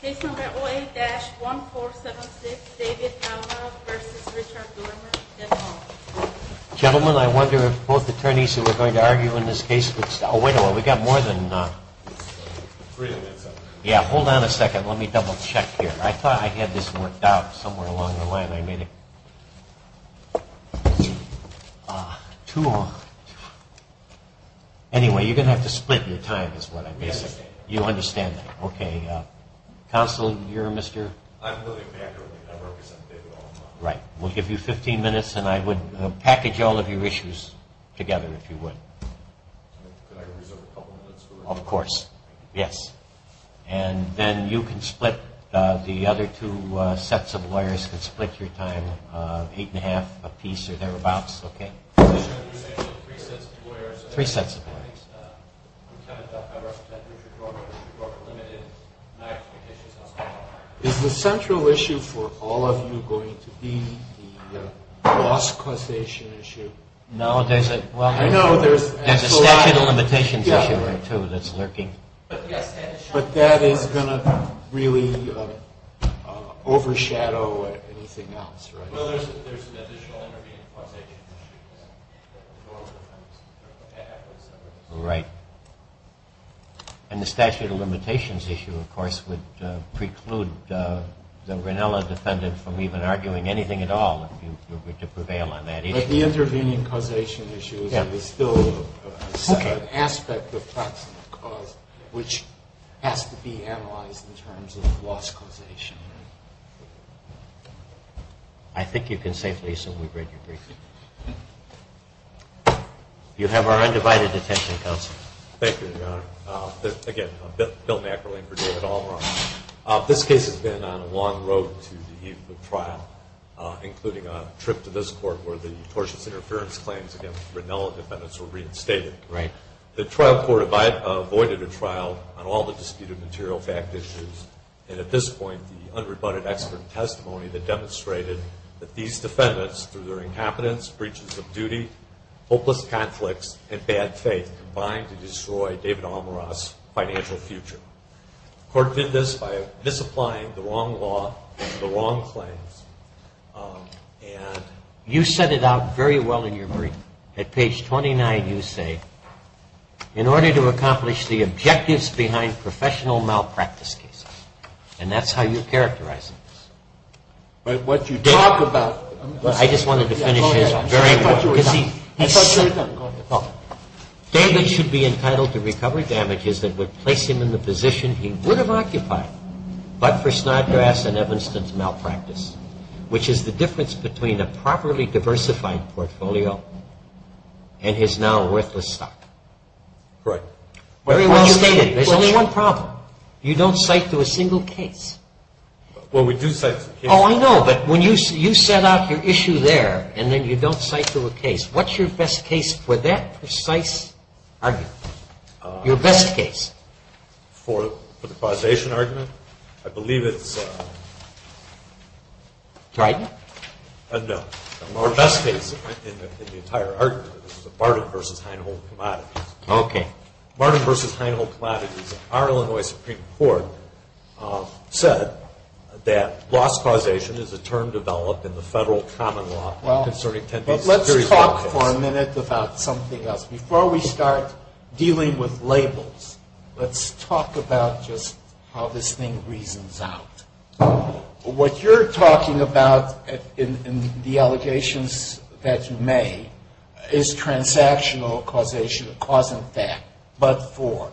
Case No. 08-1476, David Almeroth v. Richard Doermer, et al. Counsel, you're Mr.? I'm William Packer. I represent David Almeroth. Right. We'll give you 15 minutes and I would package all of your issues together if you would. Could I reserve a couple minutes? Of course. Yes. And then you can split, the other two sets of lawyers can split your time eight and a half a piece or thereabouts. Okay. Three sets of lawyers. I'm Kenneth Duck, I represent Richard Doermer, Richard Doermer Limited, and I represent David Almeroth v. Richard Doermer, et al. Is the central issue for all of you going to be the loss causation issue? No, there's a statute of limitations issue there too that's lurking. But that is going to really overshadow anything else, right? No, there's an additional intervening causation issue. Right. And the statute of limitations issue, of course, would preclude the Grinnella defendant from even arguing anything at all if you were to prevail on that issue. But the intervening causation issue is still an aspect of practical cause which has to be analyzed in terms of loss causation. I think you can safely assume we've read your brief. You have our undivided attention, counsel. Thank you, Your Honor. Again, Bill Nackerling for David Almeroth. This case has been on a long road to the trial, including a trip to this court where the attorney general's office was involved. And, of course, its interference claims against the Grinnella defendants were reinstated. Right. The trial court avoided a trial on all the disputed material fact issues. And at this point, the unrebutted expert testimony that demonstrated that these defendants, through their incompetence, breaches of duty, hopeless conflicts, and bad faith combined to destroy David Almeroth's financial future. The court did this by misapplying the wrong law and the wrong claims. And you set it out very well in your brief. At page 29, you say, in order to accomplish the objectives behind professional malpractice cases. And that's how you characterize this. David should be entitled to recover damages that would place him in the position he would have occupied but for Snodgrass and Evanston's malpractice, which is the difference between a properly diversified portfolio and his now worthless stock. Right. There's only one problem. You don't cite to a single case. Well, we do cite to a case. Oh, I know. But when you set out your issue there, and then you don't cite to a case, what's your best case for that precise argument? Your best case? For the causation argument? I believe it's... Trident? No. Our best case in the entire argument is the Barton v. Hinehold Commodities. Okay. Barton v. Hinehold Commodities, our Illinois Supreme Court, said that loss causation is a term developed in the federal common law concerning tendency securities... Well, let's talk for a minute about something else. Before we start dealing with labels, let's talk about just how this thing reasons out. What you're talking about in the allegations that you made is transactional causation, a cause and effect, but for.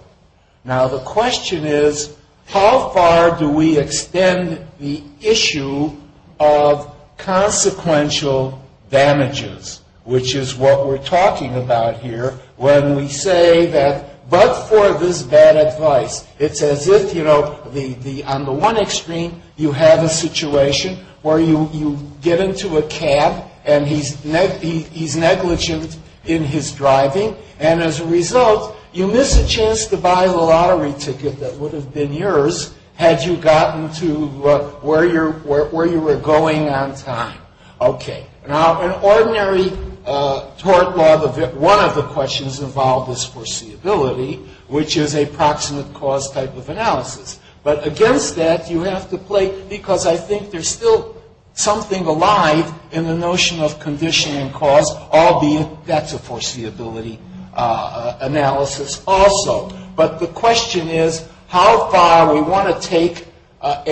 Now, the question is, how far do we extend the issue of consequential damages, which is what we're talking about here when we say that but for this bad advice. It's as if, you know, on the one extreme, you have a situation where you get into a cab and he's negligent in his driving. And as a result, you miss a chance to buy the lottery ticket that would have been yours had you gotten to where you were going on time. Okay. Now, in ordinary tort law, one of the questions involved is foreseeability, which is a proximate cause type of analysis. But against that, you have to play, because I think there's still something alive in the notion of condition and cause, albeit that's a foreseeability analysis also. But the question is, how far we want to take a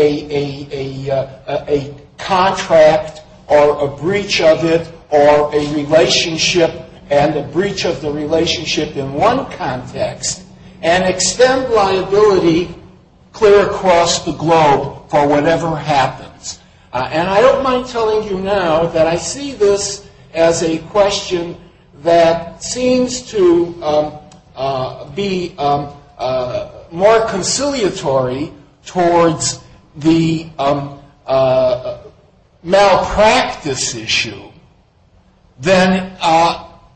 contract or a breach of it or a relationship and a breach of the relationship in one context and extend liability clear across the globe for whatever happens. And I don't mind telling you now that I see this as a question that seems to be more conciliatory towards the malpractice issue than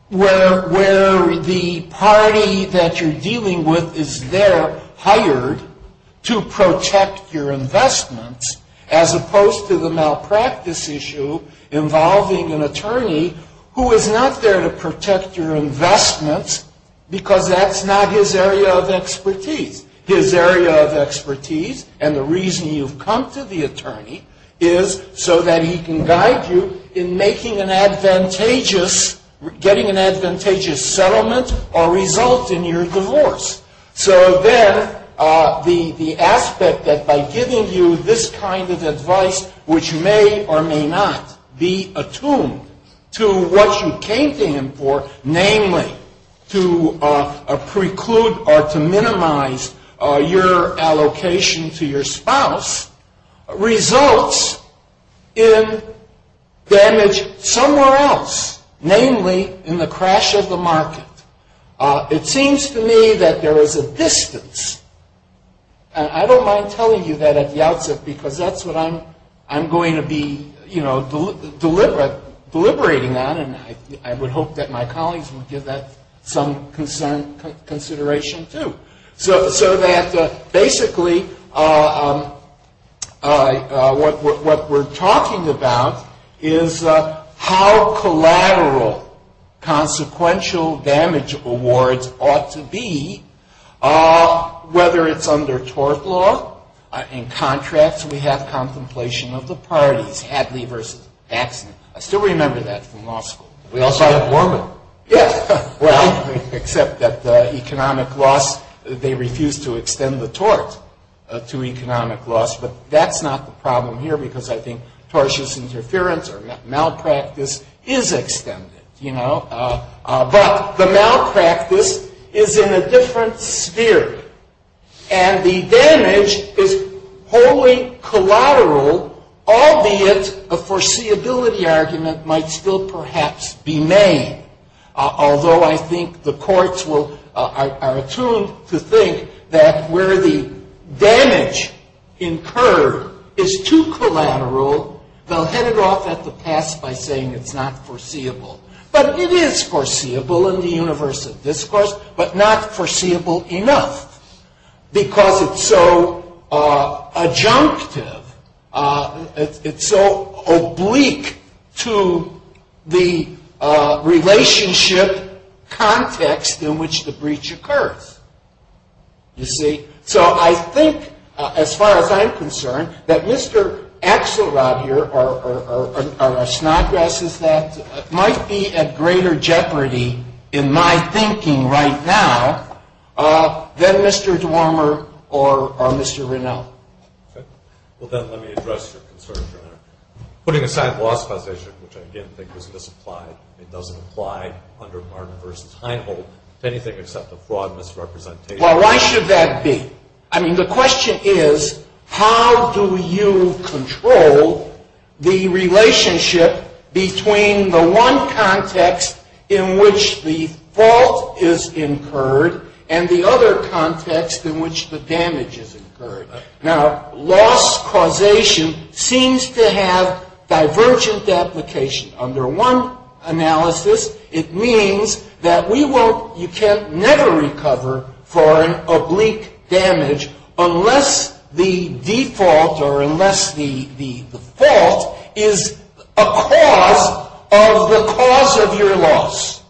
where the party that you're dealing with is there, to protect your investments, as opposed to the malpractice issue involving an attorney who is not there to protect your investments because that's not his area of expertise. His area of expertise and the reason you've come to the attorney is so that he can guide you in making an advantageous, getting an advantageous settlement or result in your divorce. So then the aspect that by giving you this kind of advice, which may or may not be attuned to what you came to him for, namely to preclude or to minimize your allocation to your spouse, results in damage somewhere else, namely in the crash of the market. It seems to me that there is a distance and I don't mind telling you that at the outset because that's what I'm going to be, you know, deliberating on and I would hope that my colleagues would give that some consideration too. So that basically what we're talking about is how collateral consequential damage awards ought to be, whether it's under tort law, in contracts we have contemplation of the parties, Hadley versus Daxson. I still remember that from law school. We also had Worman. Well, except that the economic loss, they refused to extend the tort to economic loss, but that's not the problem here because I think tortious interference or malpractice is extended, you know, but the malpractice is in a different sphere. And the damage is wholly collateral, albeit a foreseeability argument might still perhaps be made, although I think the courts are attuned to think that where the damage incurred is too collateral, they'll head it off at the pass by saying it's not foreseeable. But it is foreseeable in the universe of discourse, but not foreseeable enough because it's so adjunctive, it's so oblique to the relationship context in which the breach occurs, you see. So I think, as far as I'm concerned, that Mr. Axelrod here or Snodgrass is that, might be at greater jeopardy in my thinking right now than Mr. Dormer or Mr. Renauld. Okay. Well, then let me address your concern, Your Honor. Putting aside loss causation, which I, again, think was misapplied, it doesn't apply under Martin vs. Heinholt to anything except a fraud misrepresentation. Well, why should that be? I mean, the question is, how do you control the relationship between the one context in which the fault is incurred and the other context in which the damage is incurred? Now, loss causation seems to have divergent application. Under one analysis, it means that we won't, you can never recover for an oblique damage unless the default or unless the fault is a cause of the cause of your loss.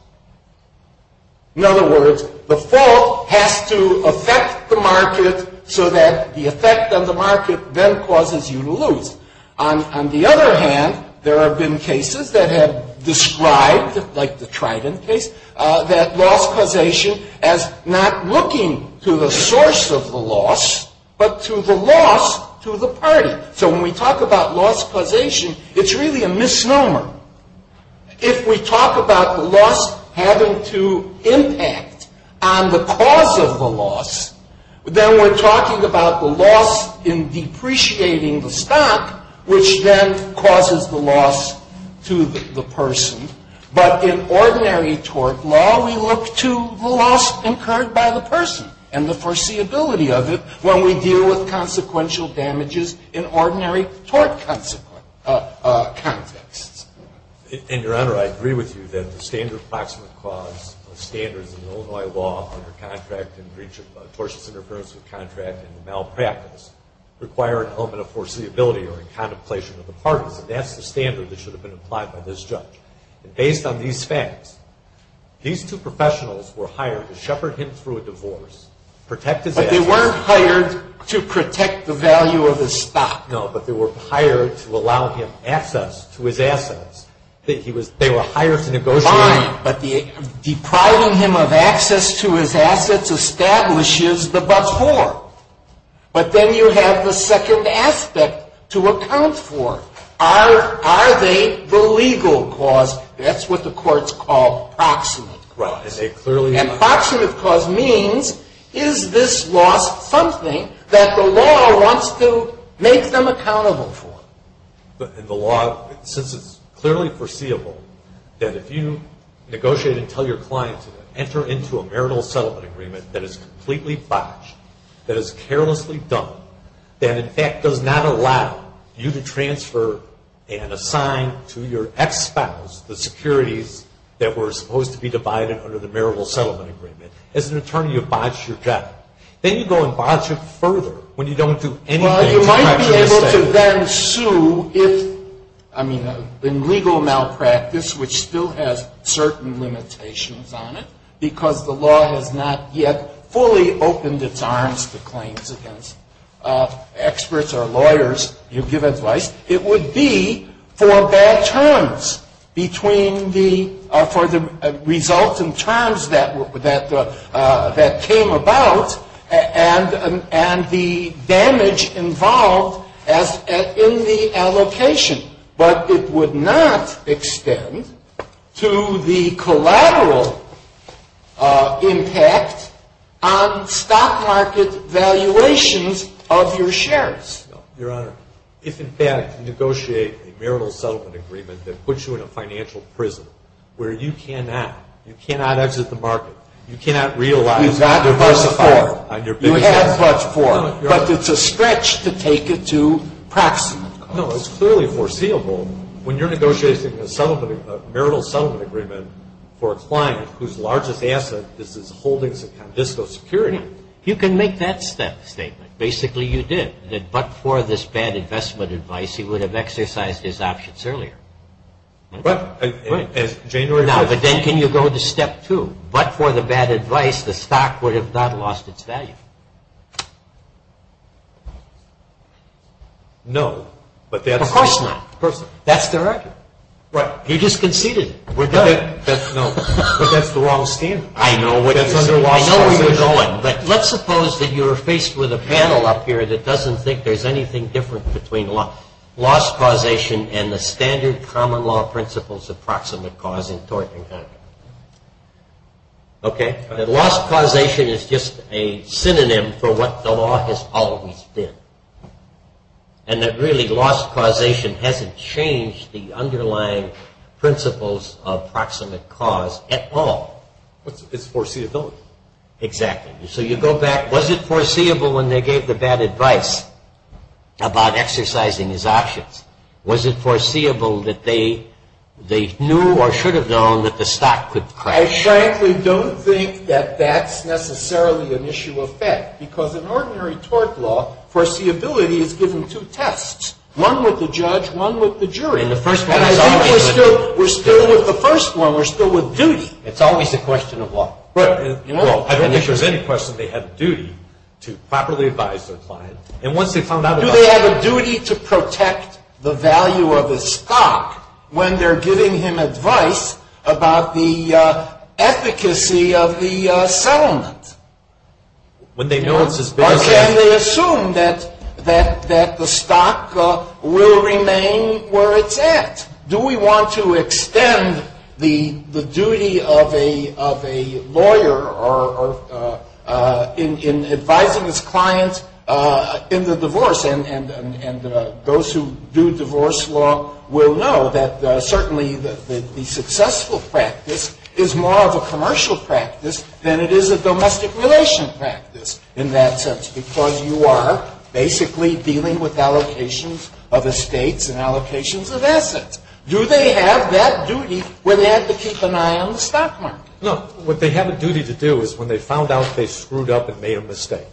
In other words, the fault has to affect the market so that the effect on the market then causes you to lose. On the other hand, there have been cases that have described, like the Trident case, that loss causation as not looking to the source of the loss, but to the loss to the party. So when we talk about loss causation, it's really a misnomer. If we talk about the loss having to impact on the cause of the loss, then we're talking about the loss in depreciating the stock, which then causes the loss to the person. But in ordinary tort law, we look to the loss incurred by the person and the foreseeability of it when we deal with consequential damages in ordinary tort contexts. And, Your Honor, I agree with you that the standard approximate clause of standards in Illinois law under contract in breach of tortious interference with contract and malpractice require an element of foreseeability or a contemplation of the parties. And that's the standard that should have been applied by this judge. And based on these facts, these two professionals were hired to shepherd him through a divorce, protect his assets. But they weren't hired to protect the value of his stock. No, but they were hired to allow him access to his assets. They were hired to negotiate. Fine, but depriving him of access to his assets establishes the before. But then you have the second aspect to account for. Are they the legal cause? That's what the courts call proximate cause. And proximate cause means is this loss something that the law wants to make them accountable for? But in the law, since it's clearly foreseeable that if you negotiate and tell your client to enter into a marital settlement agreement that is completely botched, that is carelessly done, that, in fact, does not allow you to transfer and assign to your ex-spouse the securities that were supposed to be divided under the marital settlement agreement. As an attorney, you botch your job. Then you go and botch it further when you don't do anything. Well, you might be able to then sue if, I mean, in legal malpractice, which still has certain limitations on it, because the law has not yet fully opened its arms to claims against experts or lawyers, you give advice, it would be for bad terms between the results and terms that came about and the damage involved in the allocation. But it would not extend to the collateral impact on stock market valuations of your shares. No, Your Honor. If, in fact, you negotiate a marital settlement agreement that puts you in a financial prison where you cannot, you cannot exit the market, you cannot realize that you diversified on your business. You have but for, but it's a stretch to take it to proxy. No, it's clearly foreseeable. When you're negotiating a marital settlement agreement for a client whose largest asset is his holdings in Condisco Securities. You can make that statement. Basically, you did. That but for this bad investment advice, he would have exercised his options earlier. Right. Right. Now, but then can you go to step two? But for the bad advice, the stock would have not lost its value. No, but that's. Of course not. That's the record. Right. You just conceded it. We're done. No. But that's the wrong standard. I know what you're saying. That's the wrong standard. But let's suppose that you're faced with a panel up here that doesn't think there's anything different between loss causation and the standard common law principles of proximate cause in tort and hack. Okay. That loss causation is just a synonym for what the law has always been. And that really loss causation hasn't changed the underlying principles of proximate cause at all. It's foreseeability. Exactly. So you go back. Was it foreseeable when they gave the bad advice about exercising his options? Was it foreseeable that they knew or should have known that the stock could crash? I frankly don't think that that's necessarily an issue of fact because in ordinary tort law, foreseeability is given two tests, one with the judge, one with the jury. And the first one is always a question. And I think we're still with the first one. We're still with duty. It's always a question of law. Well, I don't think there's any question they have a duty to properly advise their client. And once they've found out about it. Do they have a duty to protect the value of his stock when they're giving him advice about the efficacy of the settlement? When they know it's as big as that. Or can they assume that the stock will remain where it's at? Do we want to extend the duty of a lawyer in advising his client in the divorce? And those who do divorce law will know that certainly the successful practice is more of a commercial practice than it is a domestic relation practice in that sense. Because you are basically dealing with allocations of estates and allocations of assets. Do they have that duty where they have to keep an eye on the stock market? No. What they have a duty to do is when they found out they screwed up and made a mistake,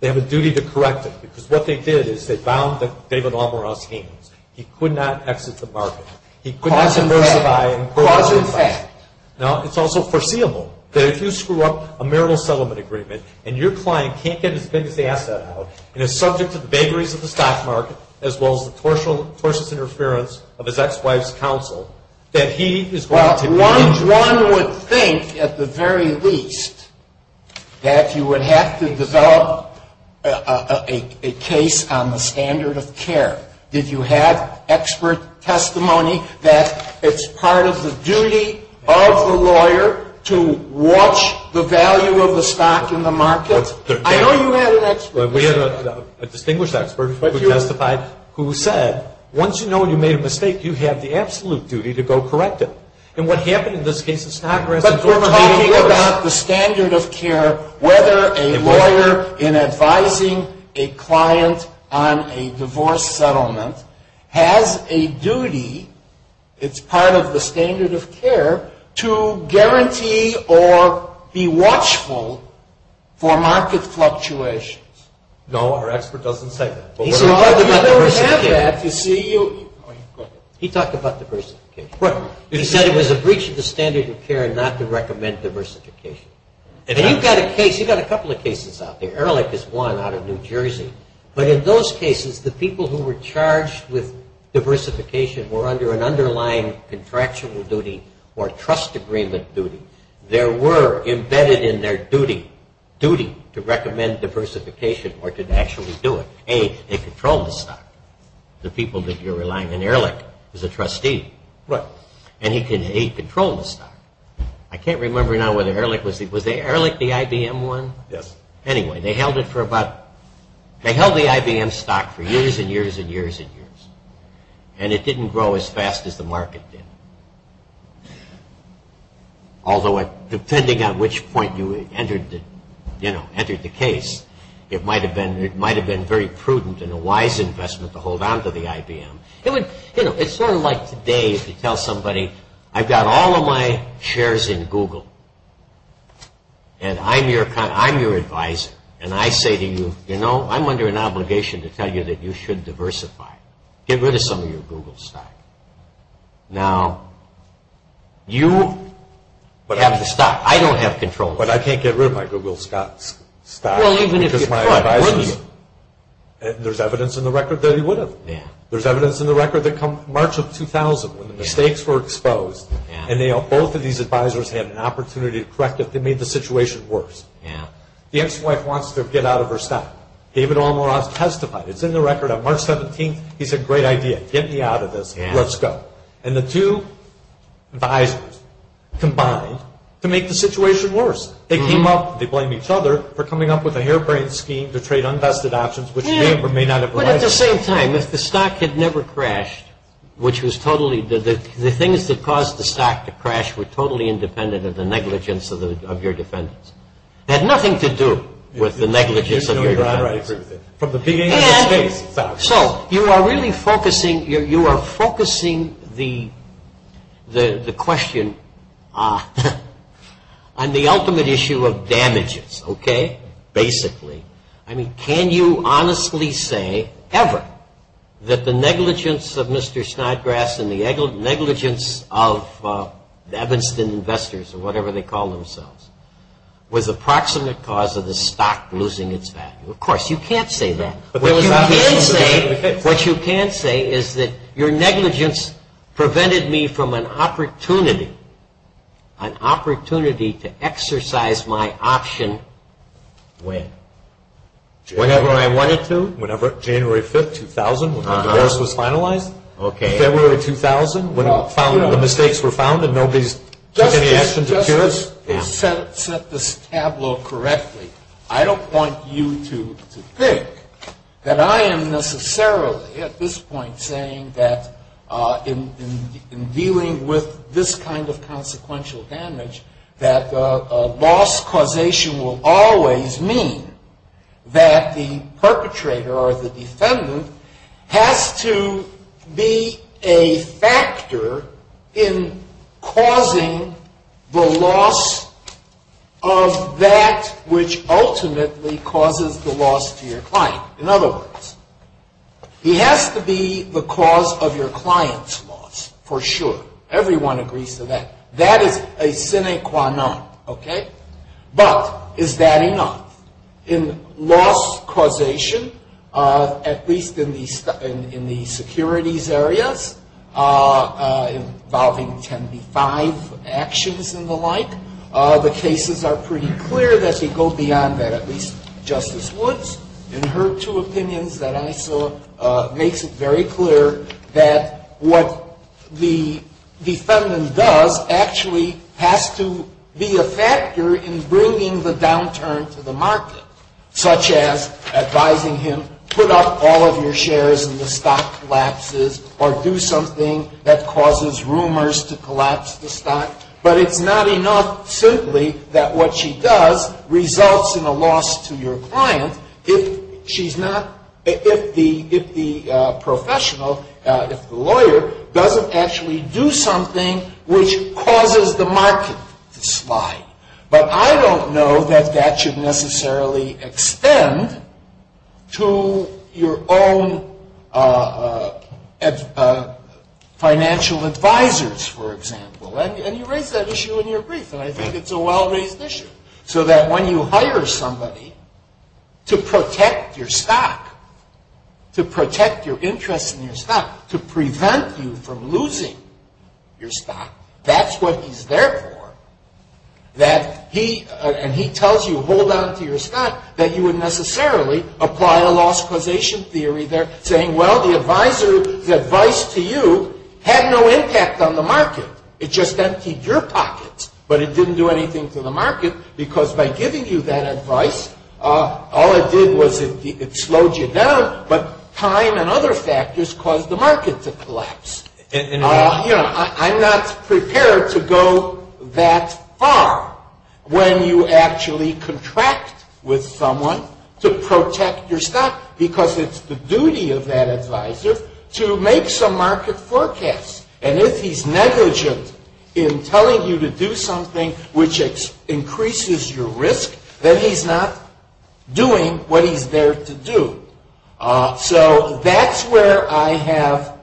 they have a duty to correct it. Because what they did is they bound the David Almaraz heinous. He could not exit the market. He could not diversify. Cause and effect. Now, it's also foreseeable that if you screw up a marital settlement agreement and your client can't get as big as the asset out and is subject to the vagaries of the stock market as well as the tortious interference of his ex-wife's counsel, that he is going to Well, one would think at the very least that you would have to develop a case on the standard of care. Did you have expert testimony that it's part of the duty of the lawyer to watch the value of the stock in the market? I know you had an expert. We had a distinguished expert who testified who said, once you know you made a mistake, you have the absolute duty to go correct it. And what happened in this case is But we're talking about the standard of care whether a lawyer in advising a client on a divorce settlement has a duty, it's part of the standard of care, to guarantee or be watchful for market fluctuations. No, our expert doesn't say that. He said it was a breach of the standard of care not to recommend diversification. And you've got a case, you've got a couple of cases out there. Ehrlich is one out of New Jersey. But in those cases, the people who were charged with diversification were under an underlying contractual duty or trust agreement duty. There were embedded in their duty to recommend diversification or to actually do it. A, they controlled the stock. The people that you're relying on, Ehrlich is a trustee. Right. And he controlled the stock. I can't remember now whether Ehrlich, was Ehrlich the IBM one? Yes. Anyway, they held the IBM stock for years and years and years and years. And it didn't grow as fast as the market did. Although depending on which point you entered the case, it might have been very prudent and a wise investment to hold on to the IBM. It's sort of like today if you tell somebody, I've got all of my shares in Google. And I'm your advisor. And I say to you, you know, I'm under an obligation to tell you that you should diversify. Get rid of some of your Google stock. Now, you have the stock. I don't have control. But I can't get rid of my Google stock. Well, even if you could, wouldn't you? There's evidence in the record that he would have. There's evidence in the record that come March of 2000 when the stakes were exposed. And both of these advisors had an opportunity to correct it. They made the situation worse. The ex-wife wants to get out of her stock. David Almaraz testified. It's in the record on March 17th. He said, great idea. Get me out of this. Let's go. And the two advisors combined to make the situation worse. They came up. They blamed each other for coming up with a harebrained scheme to trade unvested options, which may or may not have been right. But at the same time, if the stock had never crashed, which was totally the things that caused the stock to crash were totally independent of the negligence of your defendants. It had nothing to do with the negligence of your defendants. And so you are really focusing, you are focusing the question on the ultimate issue of damages, okay, basically. I mean, can you honestly say ever that the negligence of Mr. Snodgrass and the negligence of the Evanston investors or whatever they call themselves was the proximate cause of the stock losing its value? Of course, you can't say that. What you can say is that your negligence prevented me from an opportunity, an opportunity to exercise my option when? Whenever I wanted to? Whenever, January 5th, 2000, when the divorce was finalized? Okay. February 2000, when the mistakes were found and nobody took any action to cure it? Just to set this tableau correctly, I don't want you to think that I am necessarily at this point saying that in dealing with this kind of consequential damage, that loss causation will always mean that the perpetrator or the defendant has to be a factor in causing the loss of that which ultimately causes the loss to your client. In other words, he has to be the cause of your client's loss, for sure. Everyone agrees to that. That is a sine qua non, okay? But is that enough? In loss causation, at least in the securities areas involving 10b-5 actions and the like, the cases are pretty clear that they go beyond that. At least Justice Woods, in her two opinions that I saw, makes it very clear that what the defendant does actually has to be a factor in bringing the downturn to the market, such as advising him, put up all of your shares and the stock collapses, or do something that causes rumors to collapse the stock. But it's not enough simply that what she does results in a loss to your client if the professional, if the lawyer, doesn't actually do something which causes the market to slide. But I don't know that that should necessarily extend to your own financial advisors, for example. And you raise that issue in your brief, and I think it's a well-raised issue. So that when you hire somebody to protect your stock, to protect your interest in your stock, to prevent you from losing your stock, that's what he's there for. And he tells you, hold on to your stock, that you would necessarily apply a loss causation theory there, saying, well, the advisor's advice to you had no impact on the market. It just emptied your pockets, but it didn't do anything to the market, because by giving you that advice, all it did was it slowed you down, but time and other factors caused the market to collapse. I'm not prepared to go that far when you actually contract with someone to protect your stock, because it's the duty of that advisor to make some market forecasts. And if he's negligent in telling you to do something which increases your risk, then he's not doing what he's there to do. So that's where I have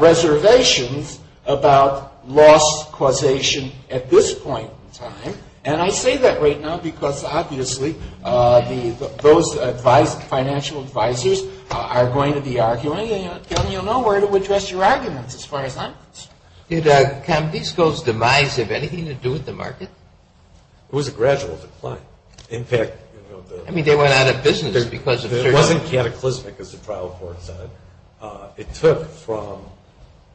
reservations about loss causation at this point in time. And I say that right now because, obviously, those financial advisors are going to be arguing, and you'll know where to address your arguments as far as I'm concerned. Did Candisco's demise have anything to do with the market? It was a gradual decline. I mean, they went out of business. It wasn't cataclysmic, as the trial court said. It took from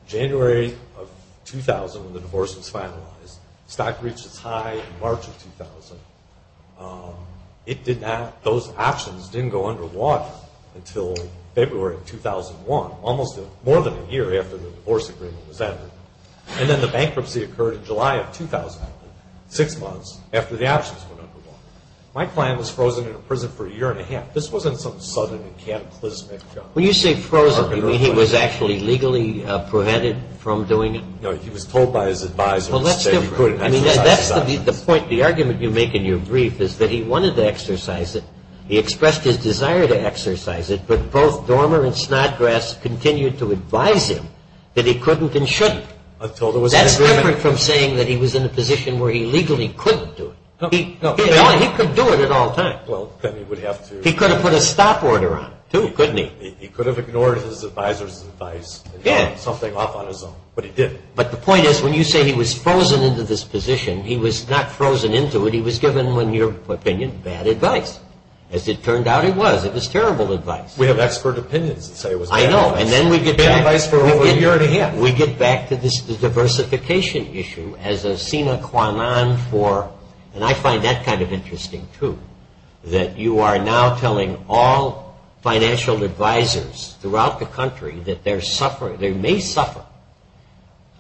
January of 2000, when the divorce was finalized, stock reached its high in March of 2000. Those options didn't go underwater until February of 2001, almost more than a year after the divorce agreement was entered. And then the bankruptcy occurred in July of 2000, six months after the options went underwater. My client was frozen in a prison for a year and a half. This wasn't some sudden cataclysmic jump. When you say frozen, you mean he was actually legally prevented from doing it? No, he was told by his advisors that he couldn't exercise his options. The argument you make in your brief is that he wanted to exercise it. He expressed his desire to exercise it, but both Dormer and Snodgrass continued to advise him that he couldn't and shouldn't. That's different from saying that he was in a position where he legally couldn't do it. He could do it at all times. He could have put a stop order on it, too, couldn't he? He could have ignored his advisor's advice and done something off on his own, but he didn't. But the point is when you say he was frozen into this position, he was not frozen into it. He was given, in your opinion, bad advice. As it turned out, it was. It was terrible advice. We have expert opinions that say it was bad advice. I know, and then we get back to this diversification issue as a sine qua non for, and I find that kind of interesting, too, that you are now telling all financial advisors throughout the country that they may suffer.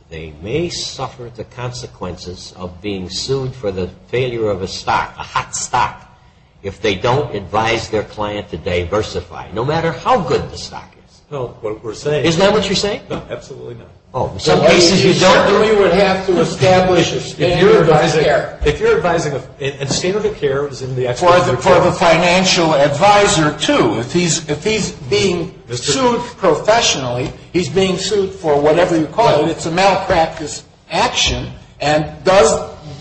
They may suffer the consequences of being sued for the failure of a stock, a hot stock, if they don't advise their client to diversify, no matter how good the stock is. Isn't that what you're saying? No, absolutely not. You don't think we would have to establish a standard of care. If you're advising a standard of care, as in the expert opinion. For the financial advisor, too. If he's being sued professionally, he's being sued for whatever you call it. It's a malpractice action, and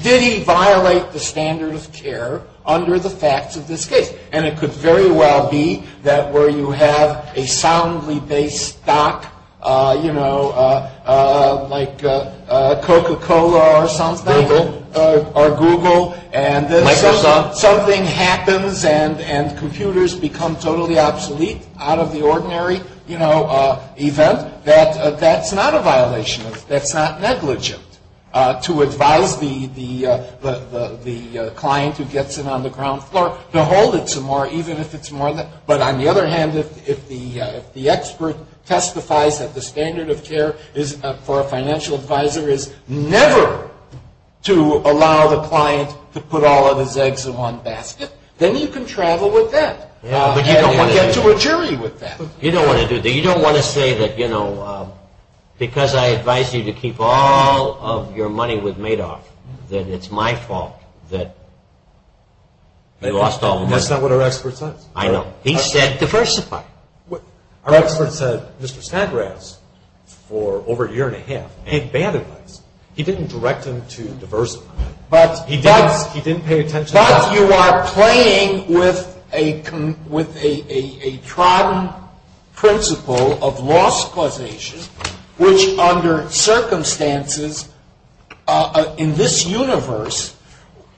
did he violate the standard of care under the facts of this case? And it could very well be that where you have a soundly based stock, like Coca-Cola or something, or Google, and something happens and computers become totally obsolete out of the ordinary event, that that's not a violation of, that's not negligent to advise the client who gets in on the ground floor to hold it some more, even if it's more than that. But on the other hand, if the expert testifies that the standard of care for a financial advisor is never to allow the client to put all of his eggs in one basket, then you can travel with that. But you don't want to get to a jury with that. You don't want to do that. You don't want to say that, you know, because I advise you to keep all of your money with Madoff, that it's my fault that you lost all of your money. That's not what our expert says. I know. He said diversify. Our expert said Mr. Stadrass, for over a year and a half, gave bad advice. He didn't direct him to diversify. He didn't pay attention to that. But you are playing with a trodden principle of loss causation, which under circumstances in this universe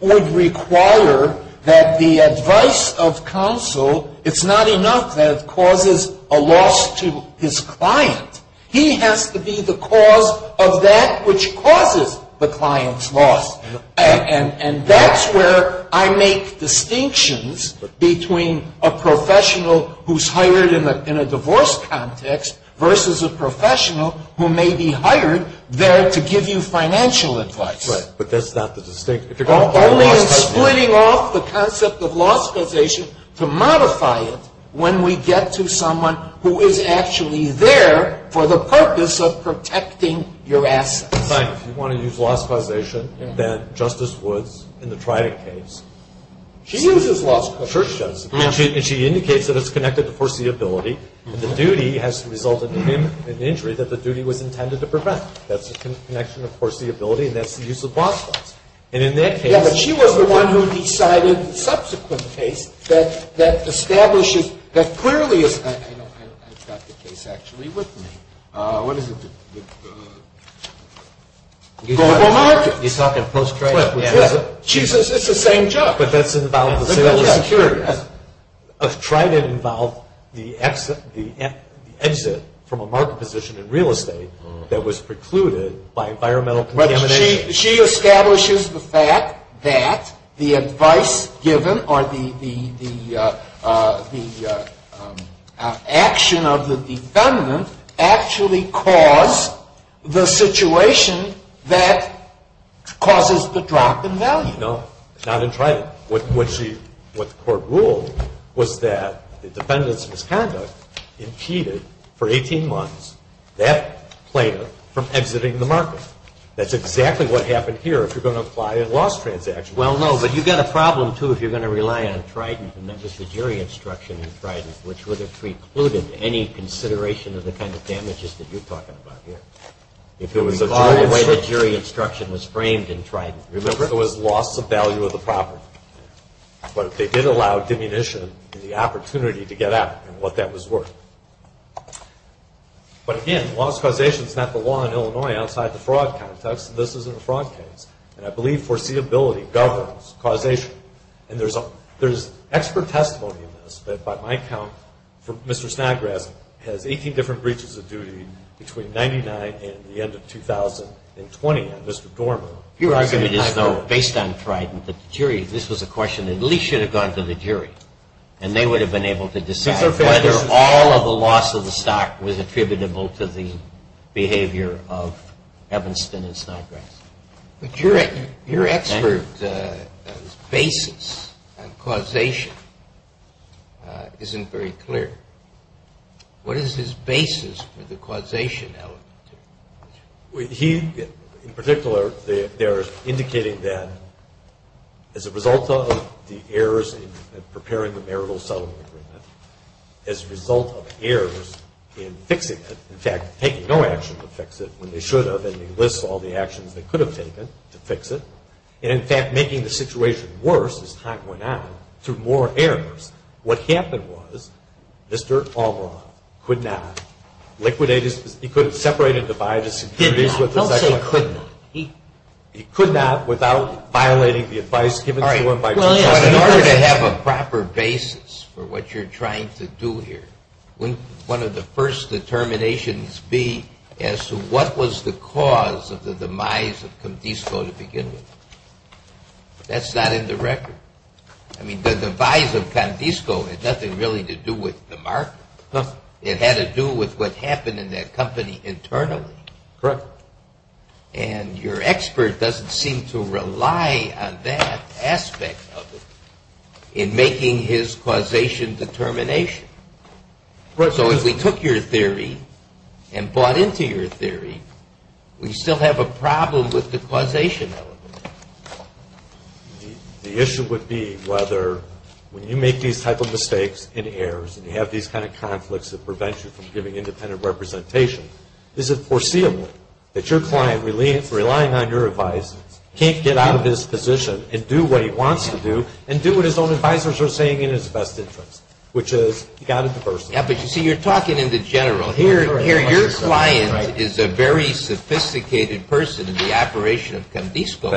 would require that the advice of counsel, it's not enough that it causes a loss to his client. He has to be the cause of that which causes the client's loss. And that's where I make distinctions between a professional who's hired in a divorce context versus a professional who may be hired there to give you financial advice. Right. But that's not the distinction. Only in splitting off the concept of loss causation to modify it when we get to someone who is actually there for the purpose of protecting your assets. If you want to use loss causation, that Justice Woods in the Trident case. She uses loss causation. And she indicates that it's connected to foreseeability. And the duty has resulted in an injury that the duty was intended to prevent. That's a connection to foreseeability, and that's the use of loss causation. And in that case. Yeah, but she was the one who decided the subsequent case that establishes, that clearly is... I've got the case actually with me. What is it? Global market. He's talking post-trade. She says it's the same job. But that's about the same... The global security. Trident involved the exit from a market position in real estate that was precluded by environmental contamination. She establishes the fact that the advice given or the action of the defendant actually caused the situation that causes the drop in value. No, not in Trident. What the court ruled was that the defendant's misconduct impeded for 18 months that player from exiting the market. That's exactly what happened here if you're going to apply a loss transaction. Well, no, but you've got a problem, too, if you're going to rely on Trident. And that was the jury instruction in Trident, which would have precluded any consideration of the kind of damages that you're talking about here. If you recall the way the jury instruction was framed in Trident. Remember, it was loss of value of the property. But they did allow diminution in the opportunity to get out, and what that was worth. But, again, loss of causation is not the law in Illinois outside the fraud context. This isn't a fraud case. And I believe foreseeability governs causation. And there's expert testimony in this that, by my count, Mr. Snodgrass has 18 different breaches of duty between 1999 and the end of 2020. And Mr. Dorman... Based on Trident, this was a question that at least should have gone to the jury, and they would have been able to decide. Whether all of the loss of the stock was attributable to the behavior of Evanston and Snodgrass. But your expert basis on causation isn't very clear. What is his basis for the causation element? He, in particular, there is indicating that as a result of the errors in preparing the marital settlement agreement... As a result of errors in fixing it... In fact, taking no action to fix it when they should have. And he lists all the actions they could have taken to fix it. And, in fact, making the situation worse as time went on through more errors. What happened was Mr. Albaugh could not liquidate his... He could separate and divide his securities with his... Did not. Don't say could not. He could not without violating the advice given to him by... All right. Well, yes. But in order to have a proper basis for what you're trying to do here... Wouldn't one of the first determinations be as to what was the cause of the demise of Condisco to begin with? That's not in the record. I mean, the demise of Condisco had nothing really to do with the market. Nothing. It had to do with what happened in that company internally. Correct. And your expert doesn't seem to rely on that aspect of it in making his causation determination. Correct. So if we took your theory and bought into your theory, we still have a problem with the causation element. The issue would be whether when you make these type of mistakes and errors and you have these kind of conflicts that prevent you from giving independent representation, is it foreseeable that your client, relying on your advice, can't get out of his position and do what he wants to do and do what his own advisors are saying is in his best interest, which is he got a diversion. Yeah, but you see, you're talking in the general. Here your client is a very sophisticated person in the operation of Condisco.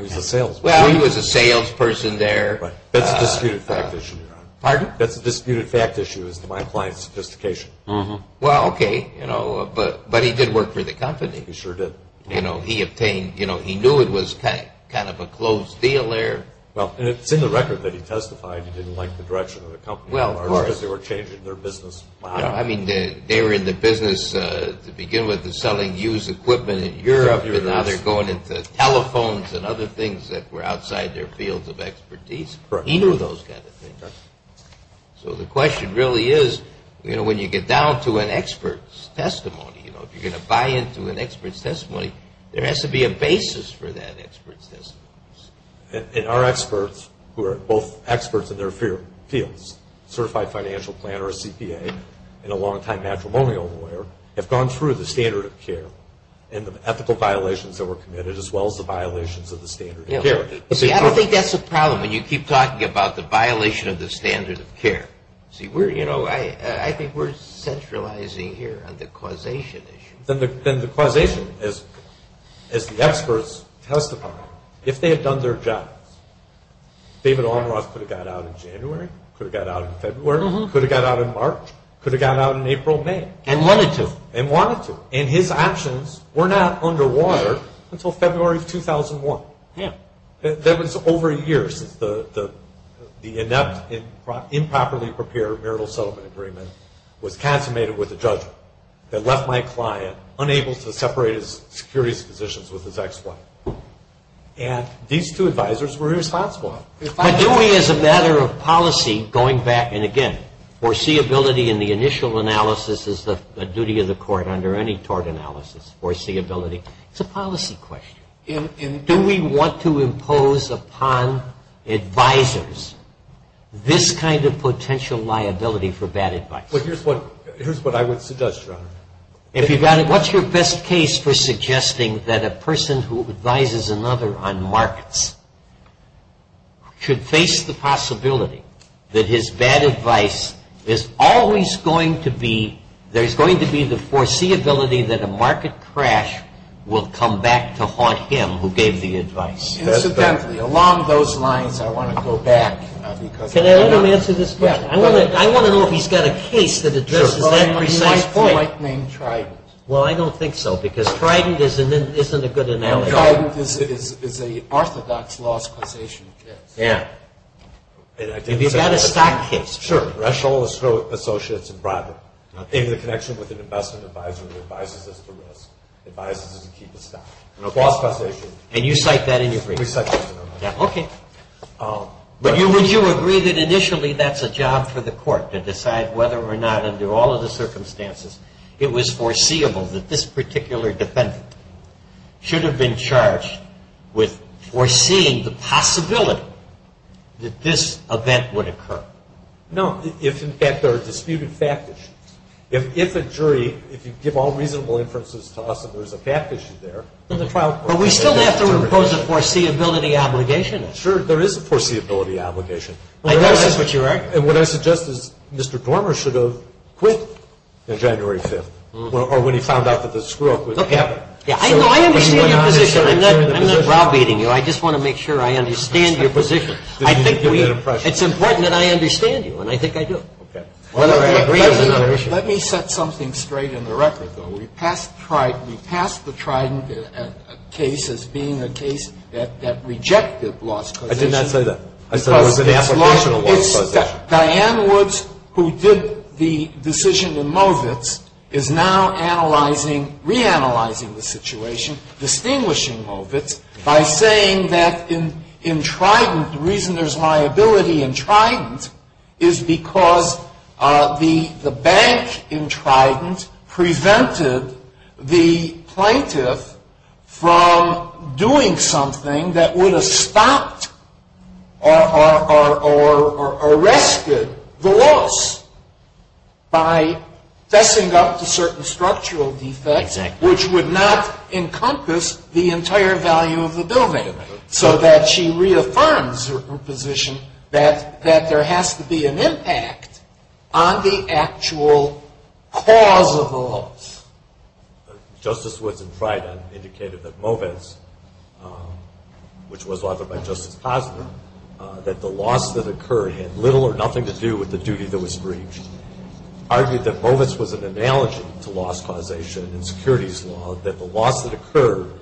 He's a salesman. Well, he was a salesperson there. That's a disputed fact issue. Pardon? That's a disputed fact issue as to my client's sophistication. Well, okay, but he did work for the company. He sure did. He knew it was kind of a closed deal there. Well, and it's in the record that he testified he didn't like the direction of the company. Well, of course. Because they were changing their business. I mean, they were in the business to begin with of selling used equipment in Europe and now they're going into telephones and other things that were outside their fields of expertise. He knew those kind of things. So the question really is, you know, when you get down to an expert's testimony, you know, if you're going to buy into an expert's testimony, there has to be a basis for that expert's testimony. And our experts, who are both experts in their fields, a certified financial planner, a CPA, and a longtime matrimonial lawyer, have gone through the standard of care and the ethical violations that were committed as well as the violations of the standard of care. See, I don't think that's a problem when you keep talking about the violation of the standard of care. See, you know, I think we're centralizing here on the causation issue. Then the causation, as the experts testify, if they had done their jobs, David Almroth could have got out in January, could have got out in February, could have got out in March, could have got out in April, May. And wanted to. And wanted to. And his options were not underwater until February of 2001. Yeah. That was over a year since the inept improperly prepared marital settlement agreement was consummated with a judgment that left my client unable to separate his securities positions with his ex-wife. And these two advisors were responsible. But do we, as a matter of policy, going back, and again, foreseeability in the initial analysis is the duty of the court under any tort analysis, foreseeability. It's a policy question. Do we want to impose upon advisors this kind of potential liability for bad advice? Well, here's what I would suggest, Your Honor. What's your best case for suggesting that a person who advises another on markets should face the possibility that his bad advice is always going to be, there's going to be the foreseeability that a market crash will come back to haunt him who gave the advice. Incidentally, along those lines, I want to go back. Can I let him answer this question? I want to know if he's got a case that addresses that precise point. Well, he might name Trident. Well, I don't think so, because Trident isn't a good analogy. Trident is an orthodox loss causation case. Yeah. Have you got a stock case? Sure. Russell Associates and Bradley. In the connection with an investment advisor who advises us to risk, advises us to keep a stock. A loss causation. And you cite that in your brief? We cite that in our brief. Okay. But would you agree that initially that's a job for the court to decide whether or not, under all of the circumstances, it was foreseeable that this particular defendant should have been charged with foreseeing the possibility that this event would occur? No. If, in fact, there are disputed fact issues. If a jury, if you give all reasonable inferences to us and there's a fact issue there. But we still have to impose a foreseeability obligation. Sure. There is a foreseeability obligation. I know that's what you're arguing. And what I suggest is Mr. Dormer should have quit on January 5th, or when he found out that the screw-up would happen. Yeah, I know. I understand your position. I'm not browbeating you. I just want to make sure I understand your position. It's important that I understand you, and I think I do. Okay. That's another issue. Let me set something straight in the record, though. We passed the Trident case as being a case that rejected loss causation. I did not say that. I said it was an application of loss causation. Diane Woods, who did the decision in Movitz, is now analyzing, reanalyzing the situation, distinguishing Movitz, by saying that in Trident, the reason there's liability in Trident is because the bank in Trident the loss by fessing up to certain structural defects, which would not encompass the entire value of the billmaker, so that she reaffirms her position that there has to be an impact on the actual cause of the loss. Justice Woods in Trident indicated that Movitz, which was authored by Justice Posner, that the loss that occurred had little or nothing to do with the duty that was breached, argued that Movitz was an analogy to loss causation in securities law, that the loss that occurred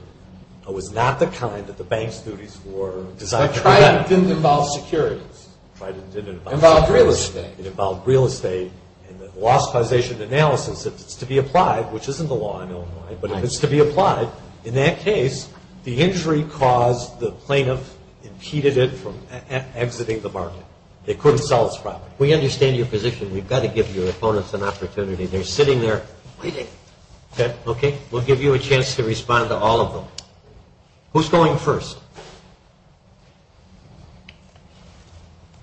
was not the kind that the bank's duties were designed to prevent. But Trident didn't involve securities. Trident didn't involve securities. It involved real estate. It involved real estate, and the loss causation analysis, if it's to be applied, which isn't the law in Illinois, but if it's to be applied, in that case, the injury caused the plaintiff impeded it from exiting the market. They couldn't sell this property. We understand your position. We've got to give your opponents an opportunity. They're sitting there waiting. Okay? We'll give you a chance to respond to all of them. Who's going first?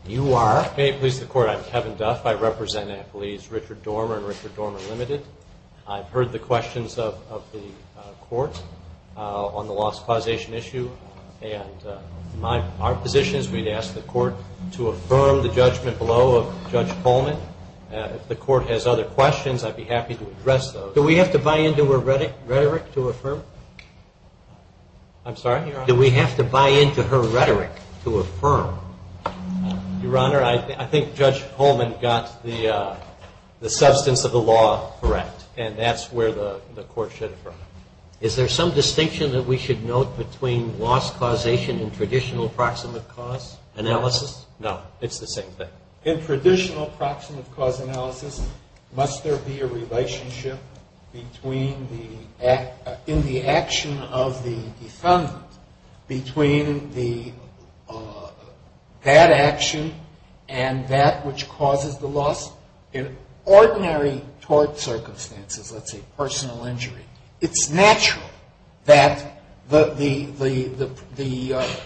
You are? May it please the Court, I'm Kevin Duff. I represent employees Richard Dormer and Richard Dormer Limited. I've heard the questions of the Court on the loss causation issue, and our position is we'd ask the Court to affirm the judgment below of Judge Coleman. If the Court has other questions, I'd be happy to address those. Do we have to buy into her rhetoric to affirm? I'm sorry? Do we have to buy into her rhetoric to affirm? Your Honor, I think Judge Coleman got the substance of the law correct, and that's where the Court should affirm. Is there some distinction that we should note between loss causation and traditional proximate cause analysis? No. It's the same thing. In traditional proximate cause analysis, must there be a relationship in the action of the defendant between that action and that which causes the loss? In ordinary tort circumstances, let's say personal injury, it's natural that the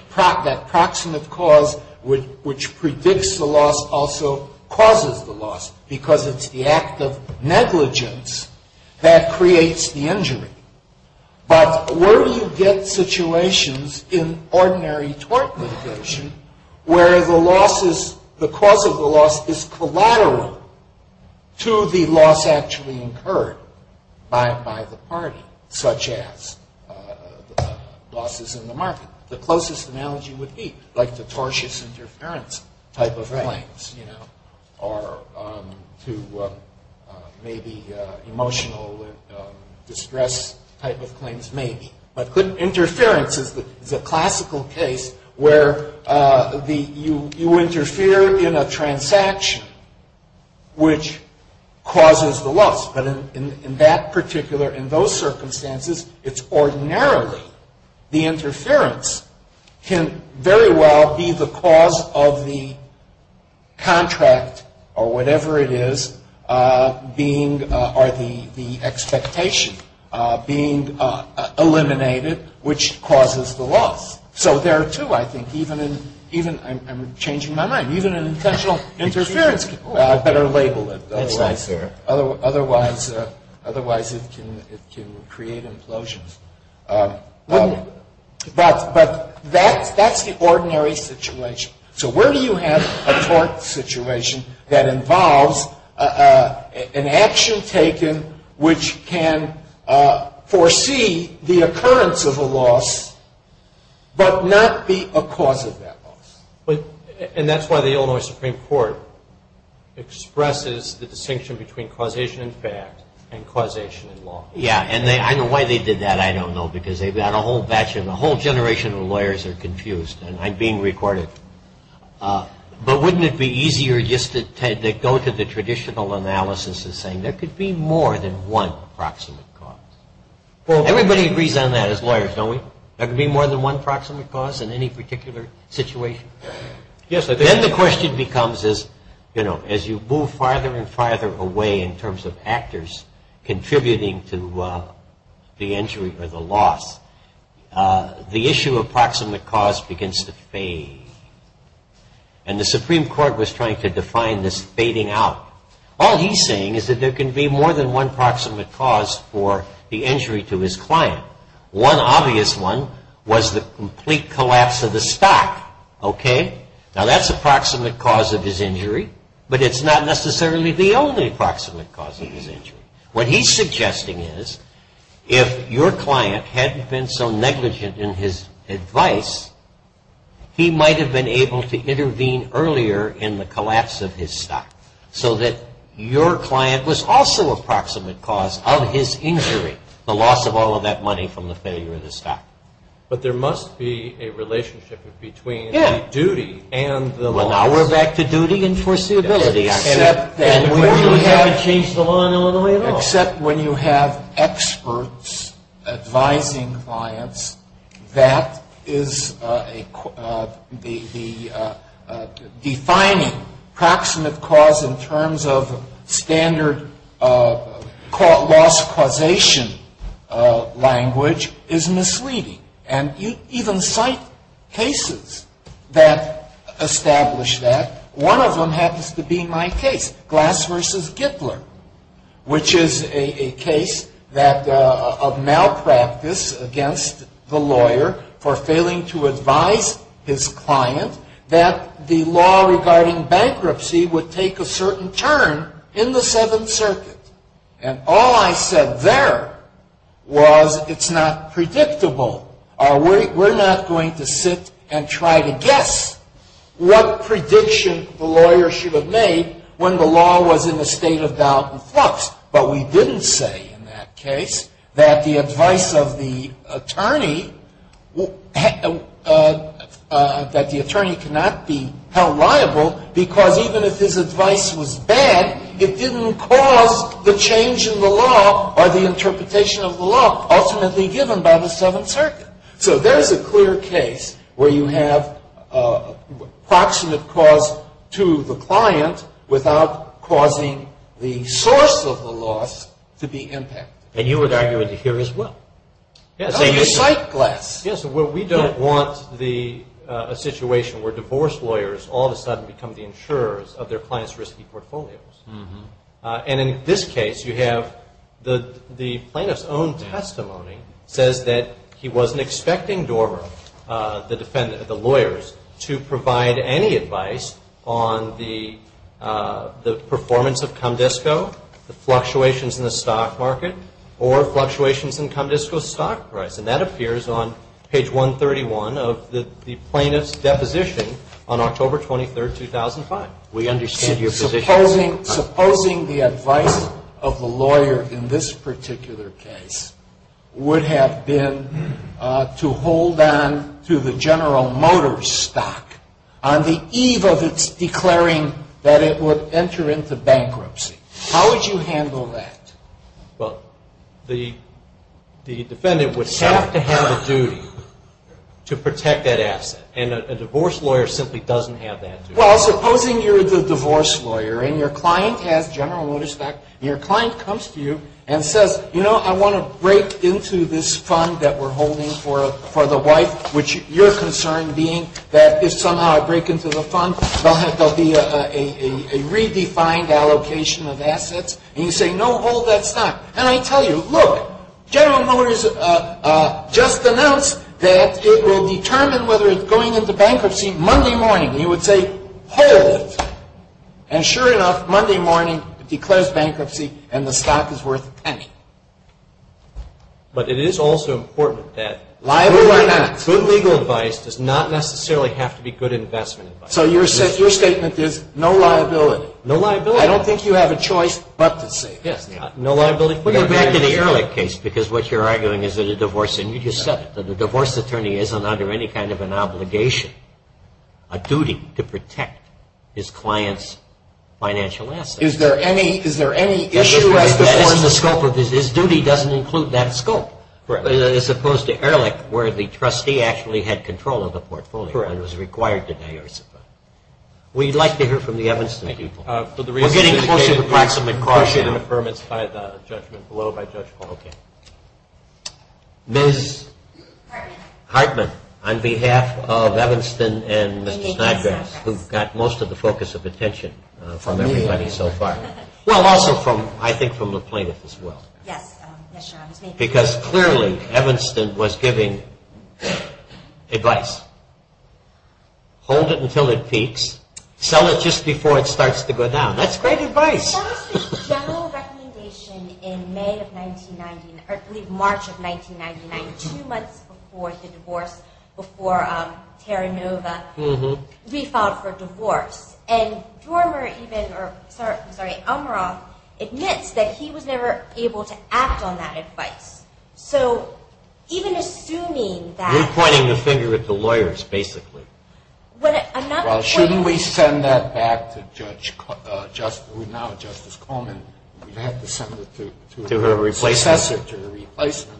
proximate cause which predicts the loss also causes the loss because it's the act of negligence that creates the injury. But where do you get situations in ordinary tort litigation where the cause of the loss is collateral to the loss actually incurred by the party, such as losses in the market? The closest analogy would be like the tortious interference type of claims, or to maybe emotional distress type of claims maybe. But interference is a classical case where you interfere in a transaction which causes the loss. But in that particular, in those circumstances, it's ordinarily the interference can very well be the cause of the contract or whatever it is being, or the expectation being eliminated which causes the loss. So there are two, I think, even in, I'm changing my mind, even an intentional interference can better label it. That's right, sir. Otherwise it can create implosions. But that's the ordinary situation. So where do you have a tort situation that involves an action taken which can foresee the occurrence of a loss but not be a cause of that loss? And that's why the Illinois Supreme Court expresses the distinction between causation in fact and causation in law. Yeah, and I know why they did that, I don't know, because they've got a whole batch and a whole generation of lawyers are confused, and I'm being recorded. But wouldn't it be easier just to go to the traditional analysis of saying there could be more than one proximate cause? Everybody agrees on that as lawyers, don't we? There could be more than one proximate cause in any particular situation? Yes, I think so. Then the question becomes as you move farther and farther away in terms of actors contributing to the injury or the loss, the issue of proximate cause begins to fade. And the Supreme Court was trying to define this fading out. All he's saying is that there can be more than one proximate cause for the injury to his client. One obvious one was the complete collapse of the stock. Now that's a proximate cause of his injury, but it's not necessarily the only proximate cause of his injury. What he's suggesting is if your client hadn't been so negligent in his advice, he might have been able to intervene earlier in the collapse of his stock so that your client was also a proximate cause of his injury, the loss of all of that money from the failure of the stock. But there must be a relationship between the duty and the loss. Well, now we're back to duty and foreseeability. Except when you have experts advising clients, that is the defining proximate cause in terms of standard loss causation language is misleading. And you even cite cases that establish that. One of them happens to be my case, Glass v. Gittler, which is a case of malpractice against the lawyer for failing to advise his client that the law regarding bankruptcy would take a certain turn in the Seventh Circuit. And all I said there was it's not predictable. We're not going to sit and try to guess what prediction the lawyer should have made when the law was in a state of doubt and flux. But we didn't say in that case that the advice of the attorney, that the attorney cannot be held liable because even if his advice was bad, it didn't cause the change in the law or the interpretation of the law ultimately given by the Seventh Circuit. So there's a clear case where you have a proximate cause to the client without causing the source of the loss to be impacted. And you would argue it here as well. Oh, you cite Glass. Yes, well, we don't want a situation where divorce lawyers all of a sudden become the insurers of their clients' risky portfolios. And in this case, you have the plaintiff's own testimony says that he wasn't expecting Dorver, the lawyers, to provide any advice on the performance of Comdisco, the fluctuations in the stock market, or fluctuations in Comdisco's stock price. And that appears on page 131 of the plaintiff's deposition on October 23, 2005. We understand your position. Supposing the advice of the lawyer in this particular case would have been to hold on to the General Motors stock on the eve of its declaring that it would enter into bankruptcy. How would you handle that? Well, the defendant would have to have a duty to protect that asset. And a divorce lawyer simply doesn't have that duty. Well, supposing you're the divorce lawyer and your client has General Motors stock. And your client comes to you and says, you know, I want to break into this fund that we're holding for the wife, which your concern being that if somehow I break into the fund, there'll be a redefined allocation of assets. And you say, no, hold that stock. And I tell you, look, General Motors just announced that it will determine whether it's going into bankruptcy Monday morning. And you would say, hold it. And sure enough, Monday morning it declares bankruptcy and the stock is worth a penny. But it is also important that good legal advice does not necessarily have to be good investment advice. So your statement is no liability. No liability. I don't think you have a choice but to say that. No liability. We go back to the Ehrlich case because what you're arguing is that a divorce, and you just said it, that a divorce attorney isn't under any kind of an obligation, a duty to protect his client's financial assets. Is there any issue? That is the scope of it. His duty doesn't include that scope as opposed to Ehrlich where the trustee actually had control of the portfolio and was required to diorize the fund. We'd like to hear from the Evanston people. We're getting close to the proximate cause here. Ms. Hartman, on behalf of Evanston and Mr. Snodgrass, who got most of the focus of attention from everybody so far. Well, also I think from the plaintiff as well. Because clearly Evanston was giving advice. Hold it until it peaks. Sell it just before it starts to go down. That's great advice. That was the general recommendation in May of 1990, or I believe March of 1999, two months before the divorce, before Terranova re-filed for divorce. And Elmeroth admits that he was never able to act on that advice. So even assuming that… You're pointing the finger at the lawyers basically. Well, shouldn't we send that back to Justice Coleman? We'd have to send it to her successor, to her replacement.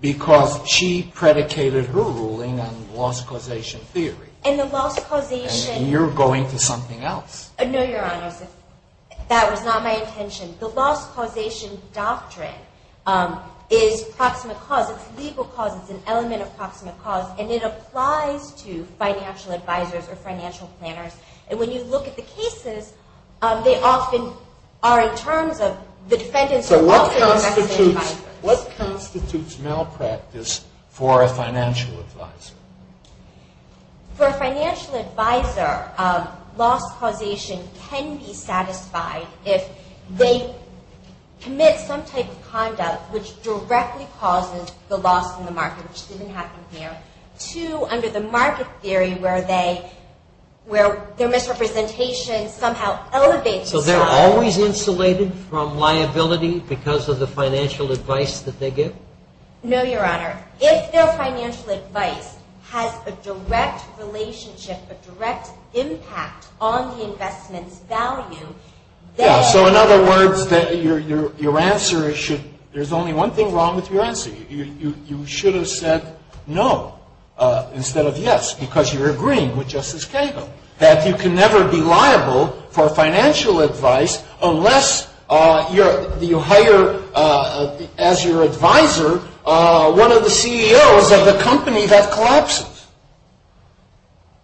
Because she predicated her ruling on loss causation theory. And the loss causation… And you're going to something else. No, Your Honors. That was not my intention. The loss causation doctrine is proximate cause. It's legal cause. It's an element of proximate cause. And it applies to financial advisors or financial planners. And when you look at the cases, they often are in terms of the defendants are… So what constitutes malpractice for a financial advisor? For a financial advisor, loss causation can be satisfied if they commit some type of conduct which directly causes the loss in the market, which didn't happen here, to under the market theory where their misrepresentation somehow elevates… So they're always insulated from liability because of the financial advice that they give? No, Your Honor. If their financial advice has a direct relationship, a direct impact on the investment's value, then… Yeah, so in other words, your answer should… There's only one thing wrong with your answer. You should have said no instead of yes because you're agreeing with Justice Kagel, that you can never be liable for financial advice unless you hire as your advisor one of the CEOs of the company that collapses.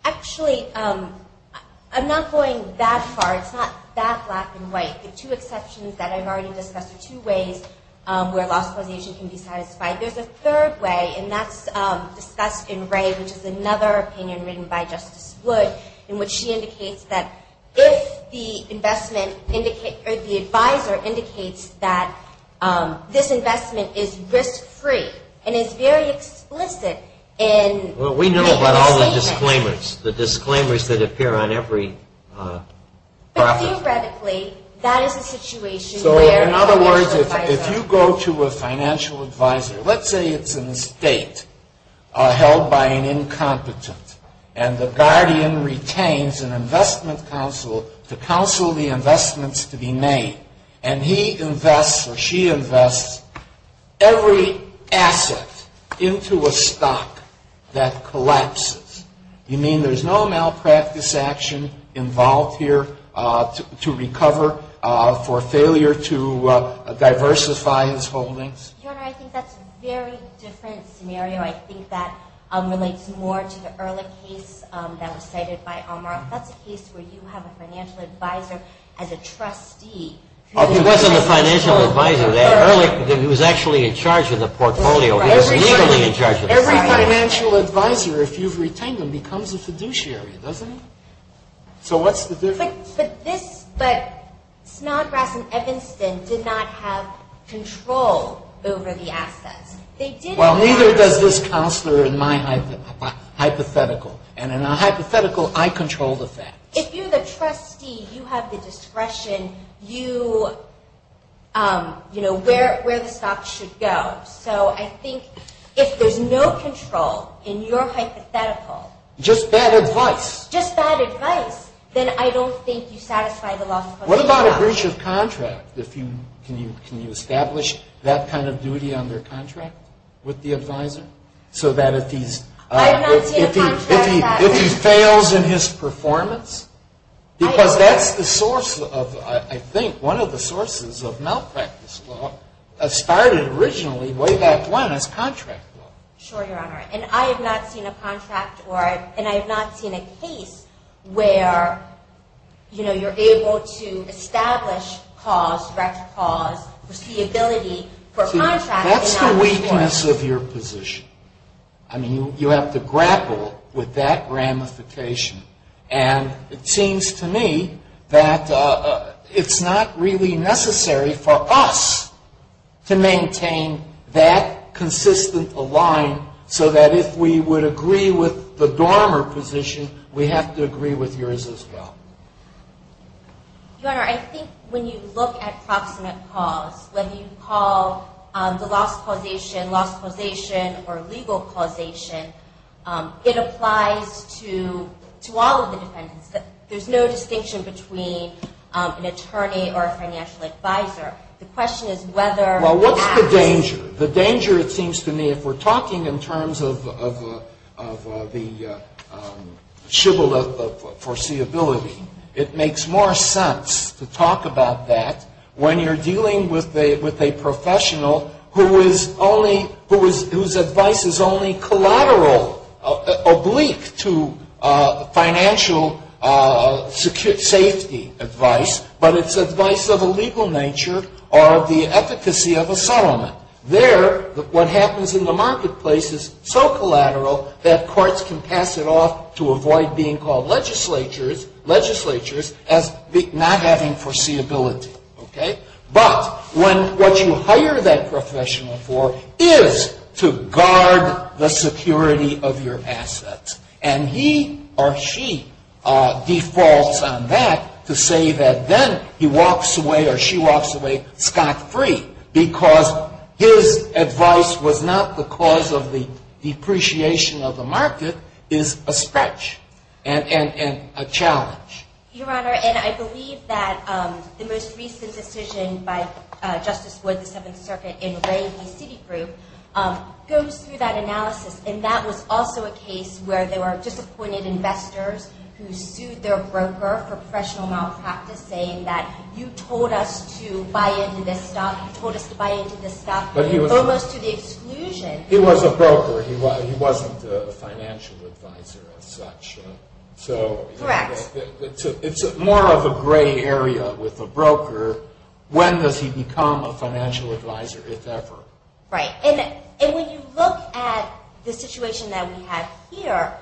Actually, I'm not going that far. It's not that black and white. The two exceptions that I've already discussed are two ways where loss causation can be satisfied. There's a third way, and that's discussed in Ray, which is another opinion written by Justice Wood, in which she indicates that if the advisor indicates that this investment is risk-free and is very explicit in… Well, we know about all the disclaimers, the disclaimers that appear on every… But theoretically, that is a situation where… So in other words, if you go to a financial advisor, let's say it's an estate held by an incompetent, and the guardian retains an investment counsel to counsel the investments to be made, and he invests or she invests every asset into a stock that collapses, you mean there's no malpractice action involved here to recover for failure to diversify his holdings? Your Honor, I think that's a very different scenario. I think that relates more to the earlier case that was cited by Omar. That's a case where you have a financial advisor as a trustee. He wasn't a financial advisor. He was actually in charge of the portfolio. Every financial advisor, if you've retained them, becomes a fiduciary, doesn't he? So what's the difference? But Snodgrass and Evanston did not have control over the assets. Well, neither does this counselor in my hypothetical. And in a hypothetical, I control the facts. If you're the trustee, you have the discretion, you know, where the stocks should go. So I think if there's no control in your hypothetical… Just bad advice. Just bad advice, then I don't think you satisfy the loss of custody. What about a breach of contract? Can you establish that kind of duty on their contract with the advisor so that if he's… I have not seen a contract that… If he fails in his performance? Because that's the source of, I think, one of the sources of malpractice law that started originally way back when as contract law. Sure, Your Honor. And I have not seen a contract or I have not seen a case where, you know, you're able to establish cause, direct cause, foreseeability for a contract. That's the weakness of your position. I mean, you have to grapple with that ramification. And it seems to me that it's not really necessary for us to maintain that consistent align so that if we would agree with the Dormer position, we have to agree with yours as well. Your Honor, I think when you look at proximate cause, whether you call the loss causation loss causation or legal causation, it applies to all of the defendants. There's no distinction between an attorney or a financial advisor. The question is whether… Well, what's the danger? The danger, it seems to me, if we're talking in terms of the shibboleth of foreseeability, it makes more sense to talk about that when you're dealing with a professional whose advice is only collateral, oblique to financial safety advice, but it's advice of a legal nature or the efficacy of a settlement. There, what happens in the marketplace is so collateral that courts can pass it off to avoid being called legislatures as not having foreseeability. But what you hire that professional for is to guard the security of your assets. And he or she defaults on that to say that then he walks away or she walks away scot-free because his advice was not the cause of the depreciation of the market, is a stretch and a challenge. Your Honor, and I believe that the most recent decision by Justice Wood, the Seventh Circuit, in Ray v. Citigroup, goes through that analysis. And that was also a case where there were disappointed investors who sued their broker for professional malpractice, saying that you told us to buy into this stuff, you told us to buy into this stuff, almost to the exclusion. He was a broker. He wasn't a financial advisor as such. Correct. So it's more of a gray area with a broker. When does he become a financial advisor, if ever? Right. And when you look at the situation that we have here,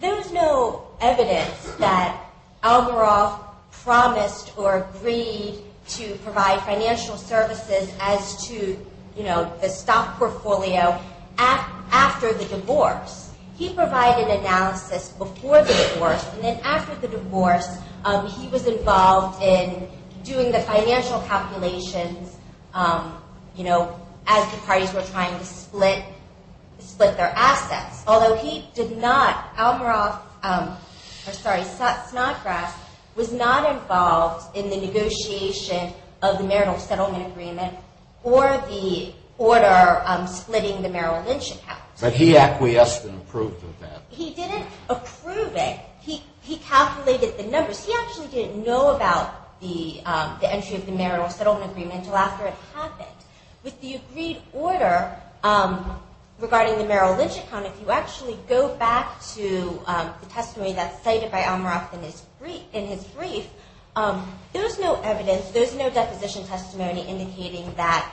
there is no evidence that Algoroff promised or agreed to provide financial services as to the stock portfolio after the divorce. He provided analysis before the divorce, and then after the divorce, he was involved in doing the financial calculations as the parties were trying to split their assets. Although he did not, Algoroff, or sorry, Snodgrass, was not involved in the negotiation of the marital settlement agreement or the order splitting the marital lynching house. But he acquiesced and approved of that. He didn't approve it. He calculated the numbers. He actually didn't know about the entry of the marital settlement agreement until after it happened. With the agreed order regarding the marital lynching account, if you actually go back to the testimony that's cited by Algoroff in his brief, there's no evidence, there's no deposition testimony, indicating that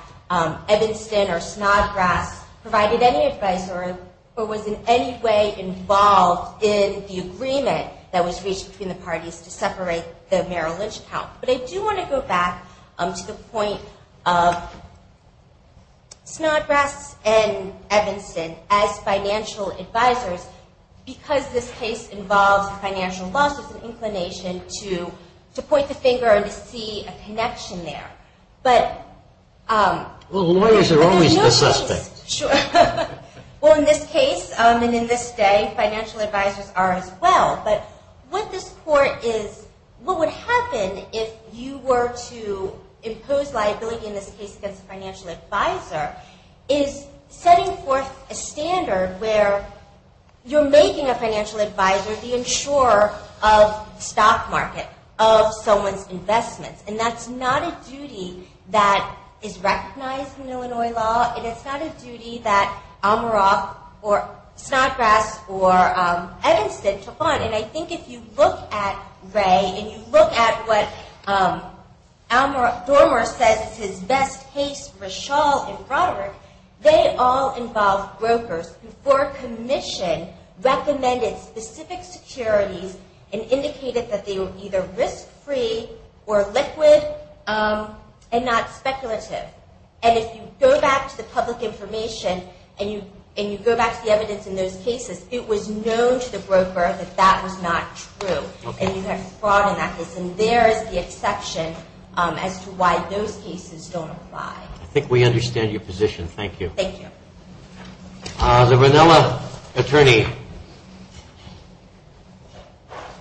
Evanston or Snodgrass provided any advice or was in any way involved in the agreement that was reached between the parties to separate the marital lynching account. But I do want to go back to the point of Snodgrass and Evanston as financial advisors because this case involves financial losses and inclination to point the finger and to see a connection there. Lawyers are always the suspect. Sure. Well, in this case and in this day, financial advisors are as well. But what this court is, what would happen if you were to impose liability in this case against a financial advisor is setting forth a standard where you're making a financial advisor the insurer of stock market, of someone's investments. And that's not a duty that is recognized in Illinois law, and it's not a duty that Algoroff or Snodgrass or Evanston took on. And I think if you look at Ray, and you look at what Al Gormer says is his best case, Rishal and Broderick, they all involve brokers who for commission recommended specific securities and indicated that they were either risk-free or liquid and not speculative. And if you go back to the public information and you go back to the evidence in those cases, it was known to the broker that that was not true. And you have fraud in that case. And there is the exception as to why those cases don't apply. I think we understand your position. Thank you. Thank you. The Vanilla attorney.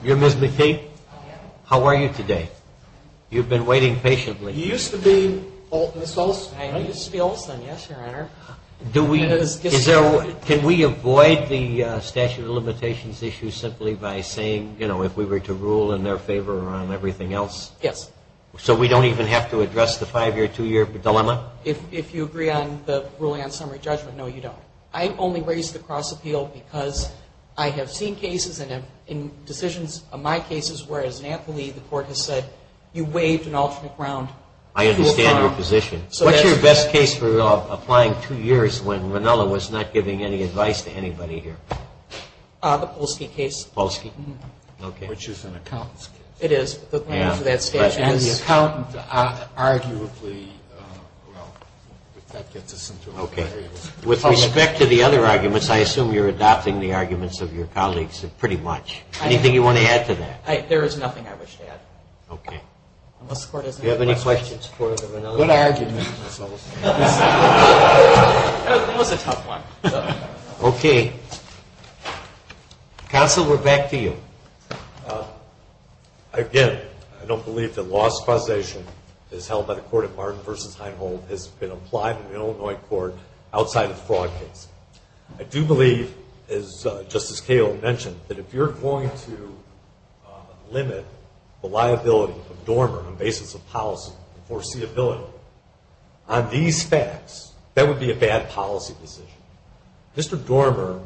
You're Ms. McKee? I am. How are you today? You've been waiting patiently. You used to be Ms. Olson, right? I used to be Olson, yes, Your Honor. Can we avoid the statute of limitations issue simply by saying, you know, if we were to rule in their favor or on everything else? Yes. So we don't even have to address the five-year, two-year dilemma? If you agree on the ruling on summary judgment, no, you don't. I only raised the cross-appeal because I have seen cases and in decisions of my cases where, as an athlete, the court has said you waived an alternate round. I understand your position. What's your best case for applying two years when Vanilla was not giving any advice to anybody here? The Polsky case. Polsky? Mm-hmm. Okay. Which is an accountant's case. It is. The claim for that statute is. The accountant, arguably, well, that gets us into a variable. Okay. With respect to the other arguments, I assume you're adopting the arguments of your colleagues pretty much. Anything you want to add to that? There is nothing I wish to add. Okay. Unless the Court has any more questions for the Vanilla attorney. Good argument. That was a tough one. Okay. Counsel, we're back to you. Again, I don't believe that law supervision is held by the court of Martin v. Heinhold has been applied in the Illinois court outside of the fraud case. I do believe, as Justice Cahill mentioned, that if you're going to limit the liability of Dormer on the basis of policy foreseeability, on these facts, that would be a bad policy decision. Mr. Dormer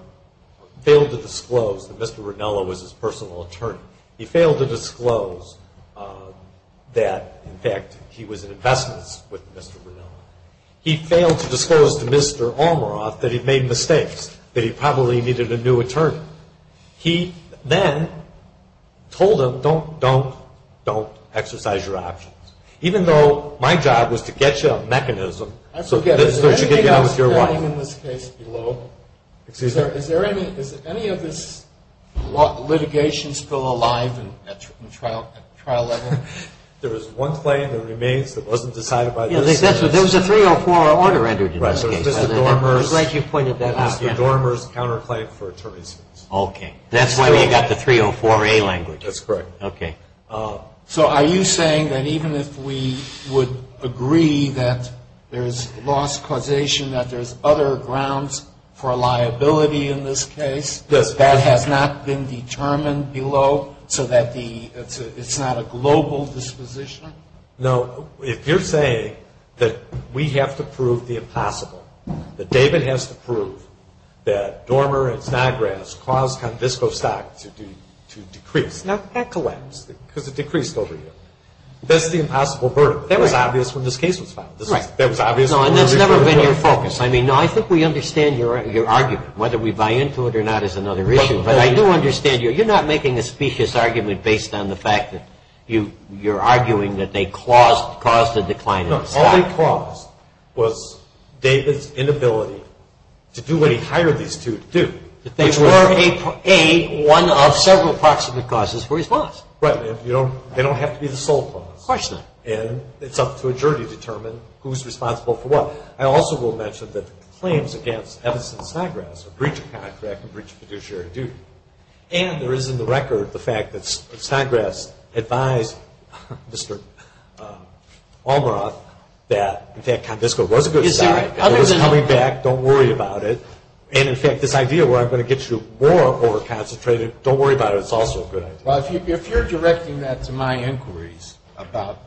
failed to disclose that Mr. Rinello was his personal attorney. He failed to disclose that, in fact, he was in investments with Mr. Rinello. He failed to disclose to Mr. Almaroth that he'd made mistakes, that he probably needed a new attorney. He then told him, don't, don't, don't exercise your options. Even though my job was to get you a mechanism so that you could get on with your life. Excuse me. Is there any of this litigation still alive at trial level? There was one claim that remains that wasn't decided by this sentence. There was a 304 order entered in this case. Mr. Dormer's counterclaim for attorneys. Okay. That's why you got the 304A language. That's correct. Okay. So are you saying that even if we would agree that there's loss causation, that there's other grounds for liability in this case, that has not been determined below so that it's not a global disposition? No. If you're saying that we have to prove the impossible, that David has to prove that Dormer and Snodgrass caused Convisco Stock to decrease. Now, that collapsed because it decreased over a year. That's the impossible verdict. That was obvious when this case was filed. That was obvious. No, and that's never been your focus. I mean, no, I think we understand your argument. Whether we buy into it or not is another issue. But I do understand you're not making a specious argument based on the fact that you're arguing that they caused the decline. No, all they caused was David's inability to do what he hired these two to do. Which were, A, one of several approximate causes for his loss. Right. They don't have to be the sole cause. Of course not. And it's up to a jury to determine who's responsible for what. I also will mention that the claims against Evans and Snodgrass are breach of contract and breach of fiduciary duty. And there is in the record the fact that Snodgrass advised Mr. Almaroth that, in fact, Convisco was a good stock. It was coming back. Don't worry about it. And, in fact, this idea where I'm going to get you more over-concentrated, don't worry about it. It's also a good idea. Well, if you're directing that to my inquiries about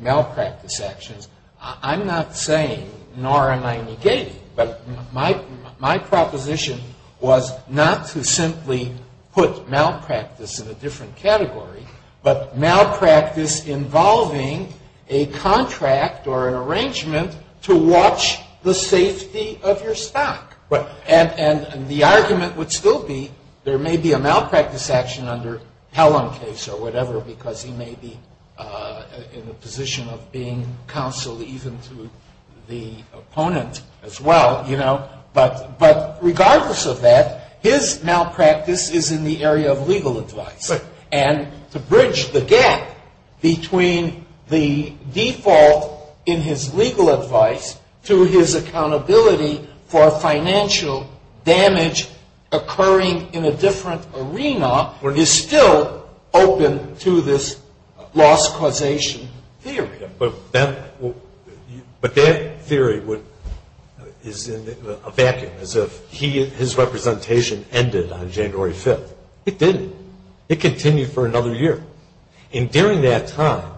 malpractice actions, I'm not saying, nor am I negating, but my proposition was not to simply put malpractice in a different category, but malpractice involving a contract or an arrangement to watch the safety of your stock. And the argument would still be there may be a malpractice action under Pellon case or whatever, because he may be in the position of being counsel even to the opponent as well, you know. But regardless of that, his malpractice is in the area of legal advice. And to bridge the gap between the default in his legal advice to his accountability for financial damage occurring in a different arena is still open to this loss causation theory. But that theory is in a vacuum as if his representation ended on January 5th. It didn't. It continued for another year. And during that time,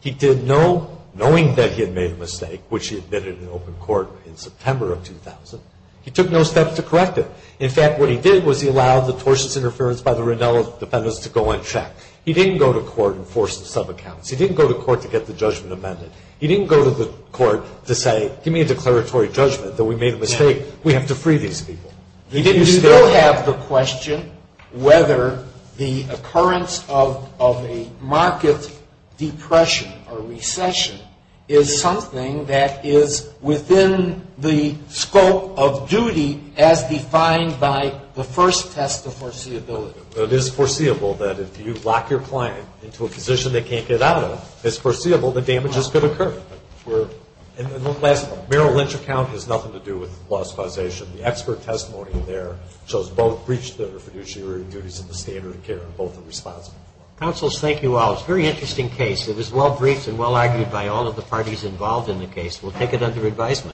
he did no, knowing that he had made a mistake, which he admitted in open court in September of 2000, he took no steps to correct it. In fact, what he did was he allowed the tortious interference by the Rinella defendants to go uncheck. He didn't go to court and force the subaccounts. He didn't go to court to get the judgment amended. He didn't go to the court to say, give me a declaratory judgment that we made a mistake. We have to free these people. Do you still have the question whether the occurrence of a market depression or recession is something that is within the scope of duty as defined by the first test of foreseeability? It is foreseeable that if you lock your client into a position they can't get out of, it's foreseeable that damage is going to occur. Merrill Lynch account has nothing to do with loss causation. The expert testimony there shows both breach of the refrigerator duties and the standard of care both are responsible for. Counsels, thank you all. It was a very interesting case. It was well briefed and well argued by all of the parties involved in the case. We'll take it under advisement.